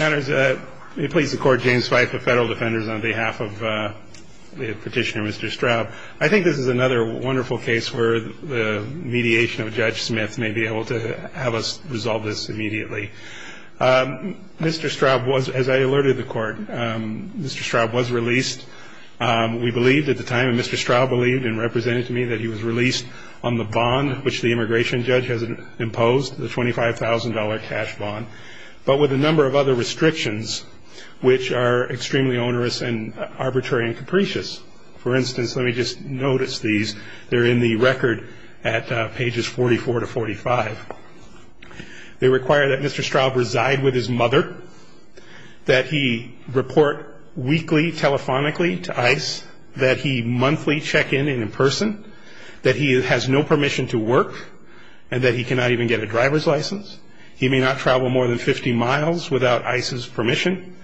I think this is another wonderful case where the mediation of Judge Smith may be able to have us resolve this immediately. Mr. Straub was, as I alerted the Court, Mr. Straub was released. We believed at the time, and Mr. Straub believed and represented to me, that he was released on the bond which the immigration judge has imposed, the $25,000 cash bond, but with a number of other restrictions which are extremely onerous and arbitrary and capricious. For instance, let me just notice these. They're in the record at pages 44 to 45. They require that Mr. Straub reside with his mother, that he report weekly, telephonically to ICE, that he monthly check in in person, that he has no permission to work, and that he cannot even get a driver's license. He may not travel more than 50 miles without ICE's permission,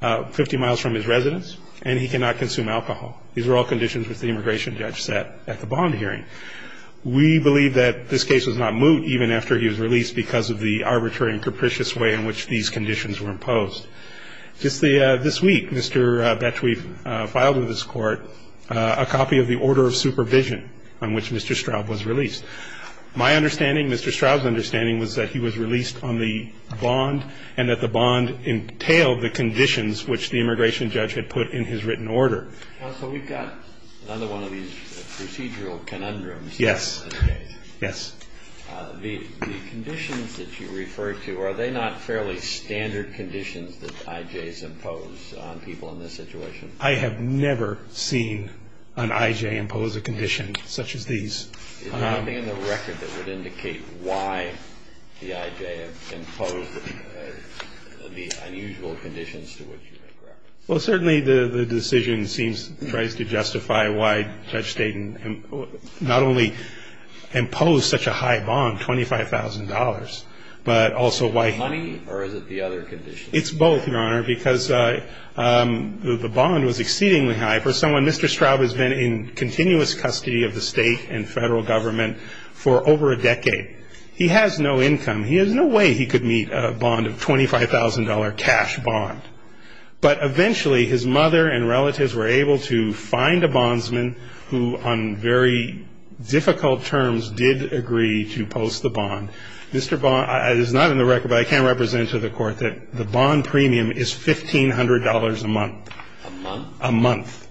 50 miles from his residence, and he cannot consume alcohol. These are all conditions which the immigration judge set at the bond hearing. We believe that this case was not moot even after he was released because of the arbitrary and capricious way in which these conditions were imposed. Just this week, Mr. Betchwey filed with his court a copy of the order of supervision on which Mr. Straub was released. My understanding, Mr. Straub's understanding, was that he was released on the bond and that the bond entailed the conditions which the immigration judge had put in his written order. Counsel, we've got another one of these procedural conundrums. Yes. Yes. The conditions that you refer to, are they not fairly standard conditions that IJs impose on people in this situation? I have never seen an IJ impose a condition such as these. Is there anything in the record that would indicate why the IJ imposed the unusual conditions to which you make reference? Well, certainly the decision seems, tries to justify why Judge Staten not only imposed such a high bond, $25,000, but also why he Money, or is it the other conditions? It's both, Your Honor, because the bond was exceedingly high for someone. Mr. Straub has been in continuous custody of the State and Federal Government for over a decade. He has no income. He has no way he could meet a bond of $25,000 cash bond. But eventually, his mother and relatives were able to find a bondsman who, on very difficult terms, did agree to post the bond. Mr. Bond, it is not in the record, but I can represent it to the Court, that the bond premium is $1,500 a month. A month? A month.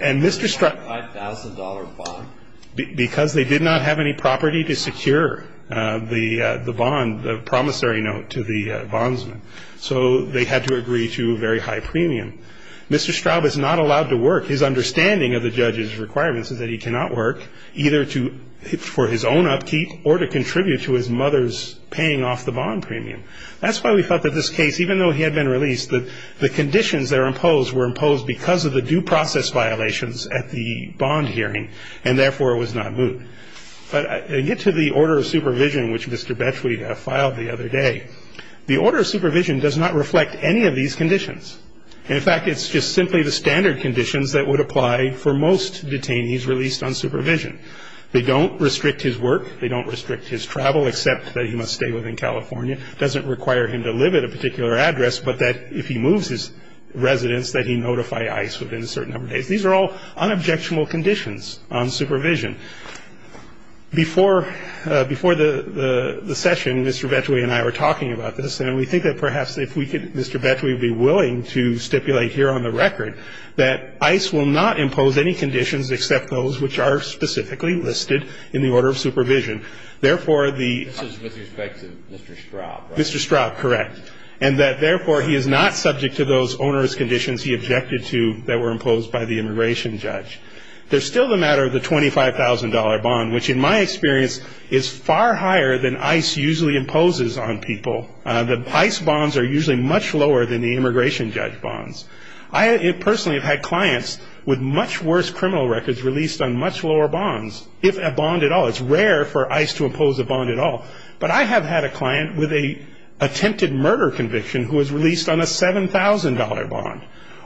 And Mr. Straub $25,000 bond? Because they did not have any property to secure the bond, the promissory note to the bondsman. So they had to agree to a very high premium. Mr. Straub is not allowed to work. His understanding of the judge's requirements is that he cannot work, either for his own upkeep or to contribute to his mother's paying off the bond premium. That's why we felt that this case, even though he had been released, that the conditions that are imposed were imposed because of the due process violations at the bond hearing, and therefore it was not moot. But I get to the order of supervision, which Mr. Betchley filed the other day. The order of supervision does not reflect any of these conditions. In fact, it's just simply the standard conditions that would apply for most detainees released on supervision. They don't restrict his work. They don't restrict his travel, except that he must stay within California. It doesn't require him to live at a particular address, but that if he moves his residence, that he notify ICE within a certain number of days. These are all unobjectional conditions on supervision. Before the session, Mr. Betchley and I were talking about this, and we think that perhaps if we could, Mr. Betchley, be willing to stipulate here on the record that ICE will not impose any conditions except those which are specifically listed in the order of supervision. Therefore, the ---- This is with respect to Mr. Straub, right? Mr. Straub, correct. And that, therefore, he is not subject to those onerous conditions he objected to that were imposed by the immigration judge. There's still the matter of the $25,000 bond, which in my experience is far higher than ICE usually imposes on people. The ICE bonds are usually much lower than the immigration judge bonds. I personally have had clients with much worse criminal records released on much lower bonds, if a bond at all. It's rare for ICE to impose a bond at all. But I have had a client with an attempted murder conviction who was released on a $7,000 bond,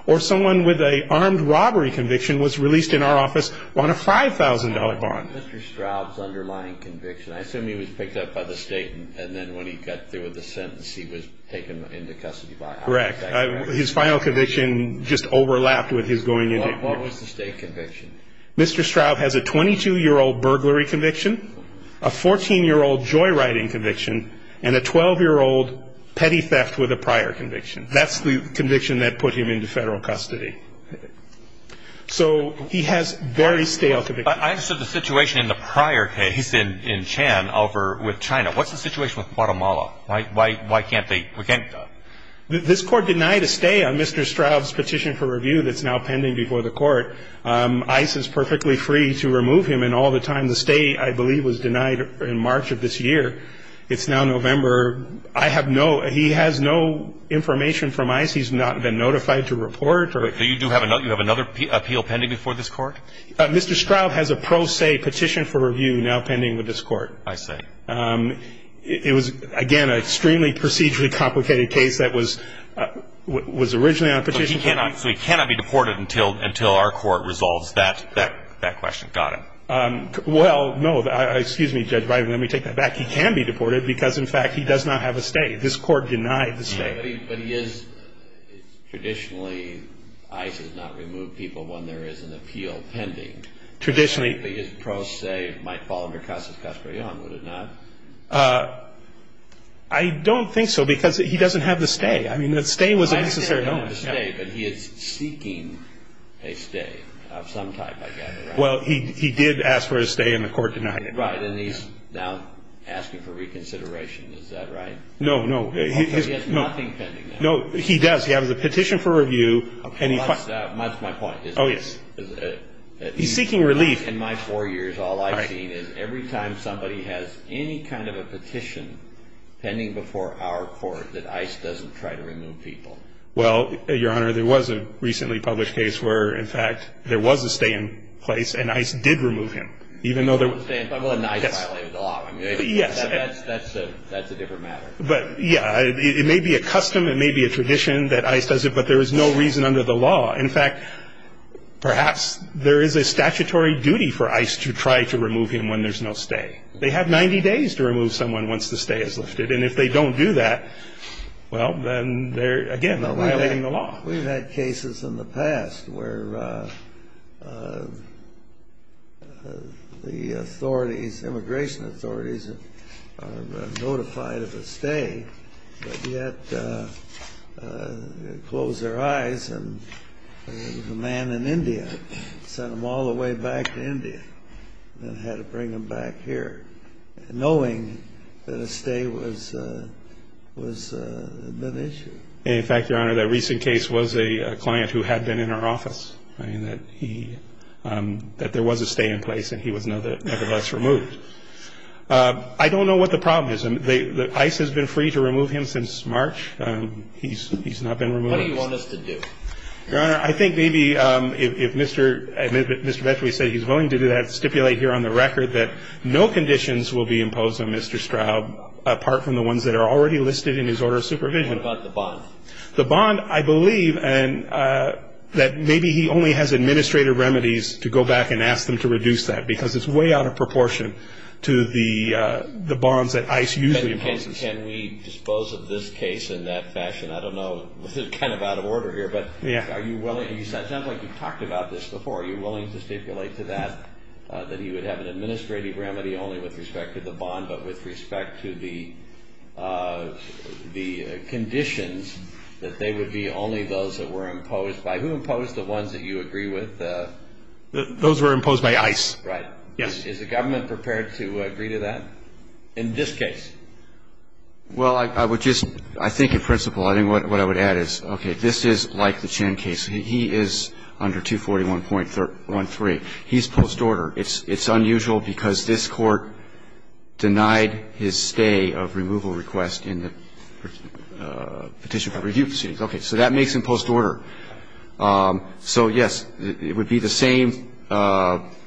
or someone with an armed robbery conviction was released in our office on a $5,000 bond. Mr. Straub's underlying conviction, I assume he was picked up by the state, and then when he got through with the sentence, he was taken into custody by ICE. Correct. His final conviction just overlapped with his going into ---- What was the state conviction? Mr. Straub has a 22-year-old burglary conviction, a 14-year-old joyriding conviction, and a 12-year-old petty theft with a prior conviction. That's the conviction that put him into federal custody. So he has very stale convictions. I understood the situation in the prior case in Chan over with China. What's the situation with Guatemala? Why can't they ---- This court denied a stay on Mr. Straub's petition for review that's now pending before the court. ICE is perfectly free to remove him, and all the time the stay, I believe, was denied in March of this year. It's now November. I have no ---- He has no information from ICE. He's not been notified to report. Do you have another appeal pending before this court? Mr. Straub has a pro se petition for review now pending with this court. I see. It was, again, an extremely procedurally complicated case that was originally on petition. So he cannot be deported until our court resolves that question. Got it. Well, no. Excuse me, Judge Biden. Let me take that back. He can be deported because, in fact, he does not have a stay. This court denied the stay. But he is ---- Traditionally, ICE has not removed people when there is an appeal pending. Traditionally. But his pro se might fall under Custis-Castro-Young, would it not? I don't think so because he doesn't have the stay. I mean, the stay was a necessary element. But he is seeking a stay of some type, I gather, right? Well, he did ask for a stay, and the court denied it. And he's now asking for reconsideration. Is that right? No, no. He has nothing pending now. No, he does. He has a petition for review. That's my point. Oh, yes. He's seeking relief. In my four years, all I've seen is every time somebody has any kind of a petition pending before our court that ICE doesn't try to remove people. Well, Your Honor, there was a recently published case where, in fact, there was a stay in place, and ICE did remove him. Even though there was a stay in place. Well, ICE violated the law. Yes. That's a different matter. But, yeah, it may be a custom, it may be a tradition that ICE does it, but there is no reason under the law. In fact, perhaps there is a statutory duty for ICE to try to remove him when there's no stay. They have 90 days to remove someone once the stay is lifted. And if they don't do that, well, then they're, again, violating the law. We've had cases in the past where the authorities, immigration authorities, are notified of a stay, but yet close their eyes and the man in India sent them all the way back to India and had to bring them back here knowing that a stay was an issue. In fact, Your Honor, that recent case was a client who had been in our office, that there was a stay in place and he was nevertheless removed. I don't know what the problem is. ICE has been free to remove him since March. He's not been removed. What do you want us to do? Your Honor, I think maybe if Mr. Vetri said he's willing to do that, stipulate here on the record that no conditions will be imposed on Mr. Straub apart from the ones that are already listed in his order of supervision. What about the bond? The bond, I believe that maybe he only has administrative remedies to go back and ask them to reduce that because it's way out of proportion to the bonds that ICE usually imposes. Can we dispose of this case in that fashion? I don't know. This is kind of out of order here, but are you willing? It sounds like you've talked about this before. Are you willing to stipulate to that that he would have an administrative remedy only with respect to the bond but with respect to the conditions that they would be only those that were imposed by? Who imposed the ones that you agree with? Those were imposed by ICE. Right. Yes. Is the government prepared to agree to that in this case? Well, I would just, I think in principle, I think what I would add is, okay, this is like the Chin case. He is under 241.13. He's post-order. It's unusual because this Court denied his stay of removal request in the Petition for Review proceedings. Okay. So that makes him post-order. So, yes, it would be the same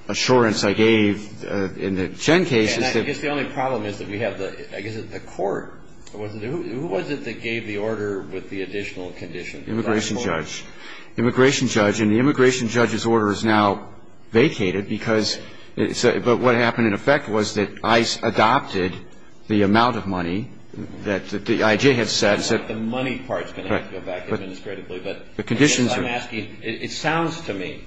assurance I gave in the Chin case. And I guess the only problem is that we have the, I guess it's the Court. Who was it that gave the order with the additional condition? Immigration judge. Immigration judge. And the immigration judge's order is now vacated because it's a, but what happened in effect was that ICE adopted the amount of money that the IJ had set. The money part is going to have to go back administratively. But the conditions are. I'm asking, it sounds to me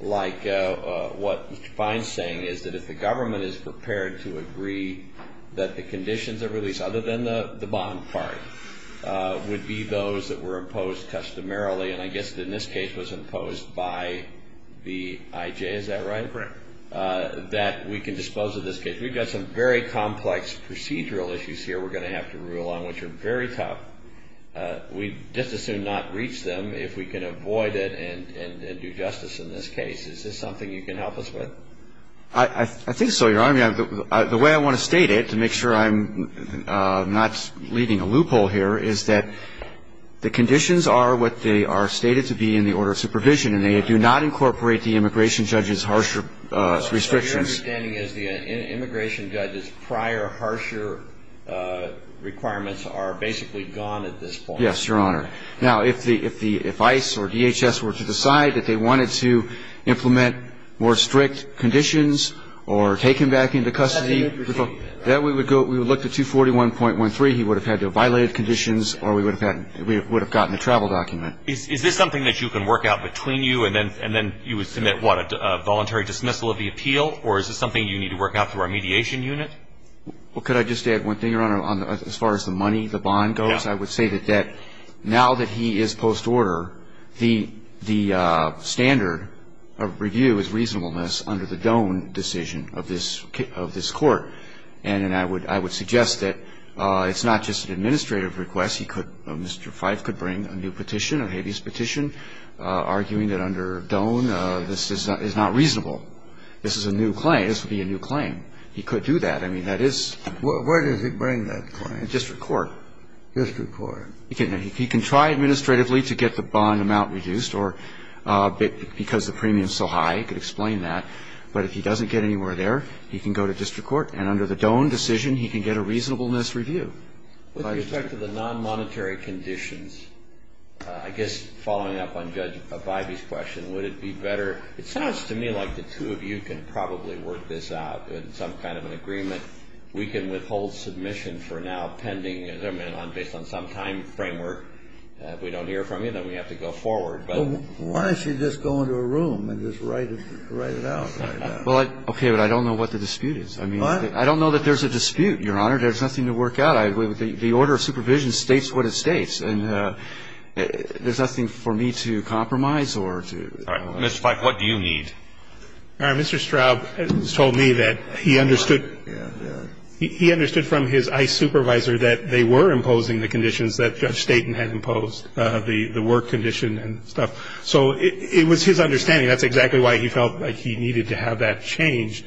like what Mr. Fein is saying is that if the government is prepared to agree that the conditions that were released other than the bond part would be those that were imposed customarily and I guess in this case was imposed by the IJ, is that right? Correct. That we can dispose of this case. We've got some very complex procedural issues here we're going to have to rule on which are very tough. We'd just as soon not reach them if we can avoid it and do justice in this case. Is this something you can help us with? I think so, Your Honor. The way I want to state it, to make sure I'm not leaving a loophole here, is that the conditions are what they are stated to be in the order of supervision and they do not incorporate the immigration judge's harsher restrictions. So your understanding is the immigration judge's prior harsher requirements are basically gone at this point? Yes, Your Honor. Now, if ICE or DHS were to decide that they wanted to implement more strict conditions or take him back into custody, we would look to 241.13. He would have had violated conditions or we would have gotten a travel document. Is this something that you can work out between you and then you would submit a voluntary dismissal of the appeal or is this something you need to work out through our mediation unit? Could I just add one thing, Your Honor, as far as the money, the bond goes? Yes. I would say that now that he is post-order, the standard of review is reasonableness under the Doane decision of this Court. And I would suggest that it's not just an administrative request. He could — Mr. Fife could bring a new petition, a habeas petition, arguing that under Doane this is not reasonable. This is a new claim. This would be a new claim. He could do that. I mean, that is — Where does he bring that claim? District court. District court. He can try administratively to get the bond amount reduced or because the premium is so high he could explain that. But if he doesn't get anywhere there, he can go to district court. And under the Doane decision, he can get a reasonableness review. With respect to the non-monetary conditions, I guess following up on Judge Avivy's question, would it be better — it sounds to me like the two of you can probably work this out in some kind of an agreement. I don't know if we can withhold submission for now pending — based on some time framework. If we don't hear from you, then we have to go forward. But — Well, why don't you just go into a room and just write it out? Well, okay, but I don't know what the dispute is. I mean, I don't know that there's a dispute, Your Honor. There's nothing to work out. The order of supervision states what it states. And there's nothing for me to compromise or to — All right. Mr. Fife, what do you need? All right. Mr. Straub has told me that he understood — Yeah, yeah. He understood from his ICE supervisor that they were imposing the conditions that Judge Staten had imposed, the work condition and stuff. So it was his understanding. That's exactly why he felt like he needed to have that changed.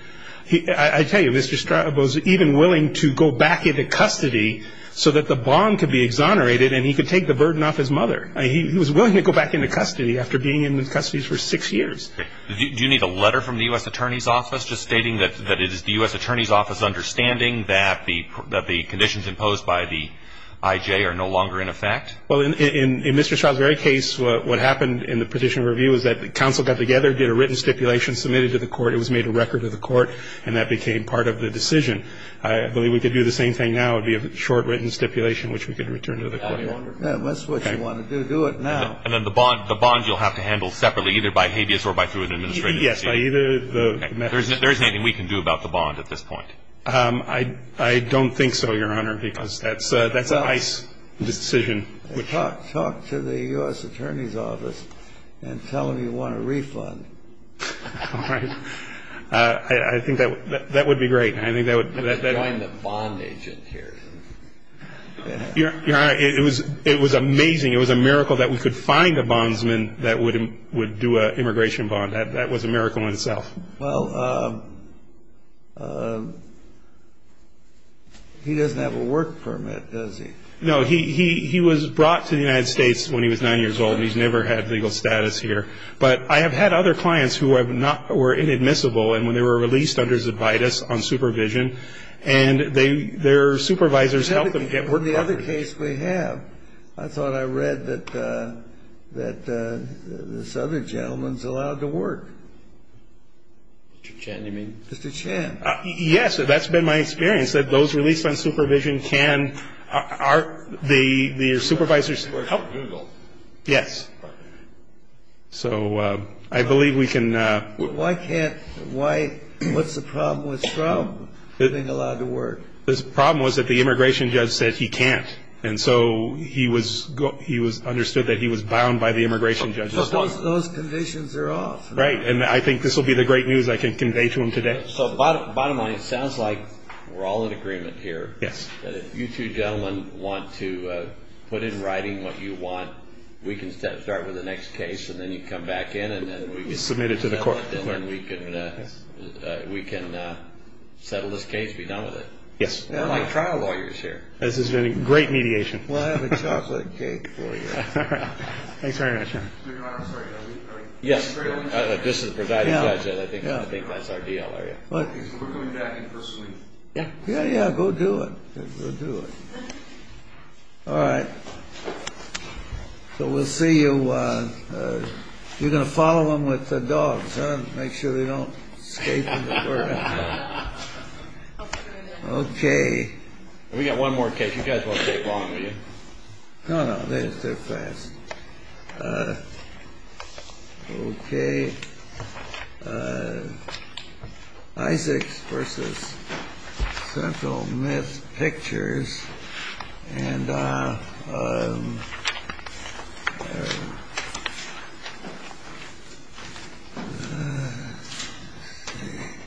I tell you, Mr. Straub was even willing to go back into custody so that the bond could be exonerated and he could take the burden off his mother. He was willing to go back into custody after being in the custody for six years. Do you need a letter from the U.S. Attorney's Office just stating that it is the U.S. Attorney's Office understanding that the conditions imposed by the I.J. are no longer in effect? Well, in Mr. Straub's very case, what happened in the petition review is that the counsel got together, did a written stipulation, submitted it to the court. It was made a record to the court, and that became part of the decision. I believe we could do the same thing now. It would be a short written stipulation, which we could return to the court. That's what you want to do. Do it now. And then the bond you'll have to handle separately, either by habeas or by through an administrative procedure? Yes. There isn't anything we can do about the bond at this point. I don't think so, Your Honor, because that's an ICE decision. Talk to the U.S. Attorney's Office and tell them you want a refund. All right. I think that would be great. Join the bond agent here. Your Honor, it was amazing. It was a miracle that we could find a bondsman that would do an immigration bond. That was a miracle in itself. Well, he doesn't have a work permit, does he? No. He was brought to the United States when he was 9 years old. He's never had legal status here. But I have had other clients who were inadmissible, and when they were released under that this other gentleman's allowed to work. Mr. Chan, you mean? Mr. Chan. Yes. That's been my experience, that those released on supervision can are the supervisor's help. Google. Yes. So I believe we can. Why can't why what's the problem with Trump being allowed to work? The problem was that the immigration judge said he can't. And so he was understood that he was bound by the immigration judge. So those conditions are off. Right. And I think this will be the great news I can convey to him today. So bottom line, it sounds like we're all in agreement here. Yes. That if you two gentlemen want to put in writing what you want, we can start with the next case, and then you come back in, and then we can settle it. Submit it to the court. And then we can settle this case and be done with it. Yes. We're like trial lawyers here. This has been a great mediation. Well, I have a chocolate cake for you. Thanks very much. Your Honor, I'm sorry. Yes. This is the presiding judge. I don't think that's our deal, are you? We're coming back in person. Yeah. Yeah, yeah. Go do it. Go do it. All right. So we'll see you. You're going to follow them with the dogs, huh? Make sure they don't escape. Okay. We've got one more case. You guys won't take long, will you? No, no. They're fast. Okay. Isaacs v. Central Myth Pictures. And let's see.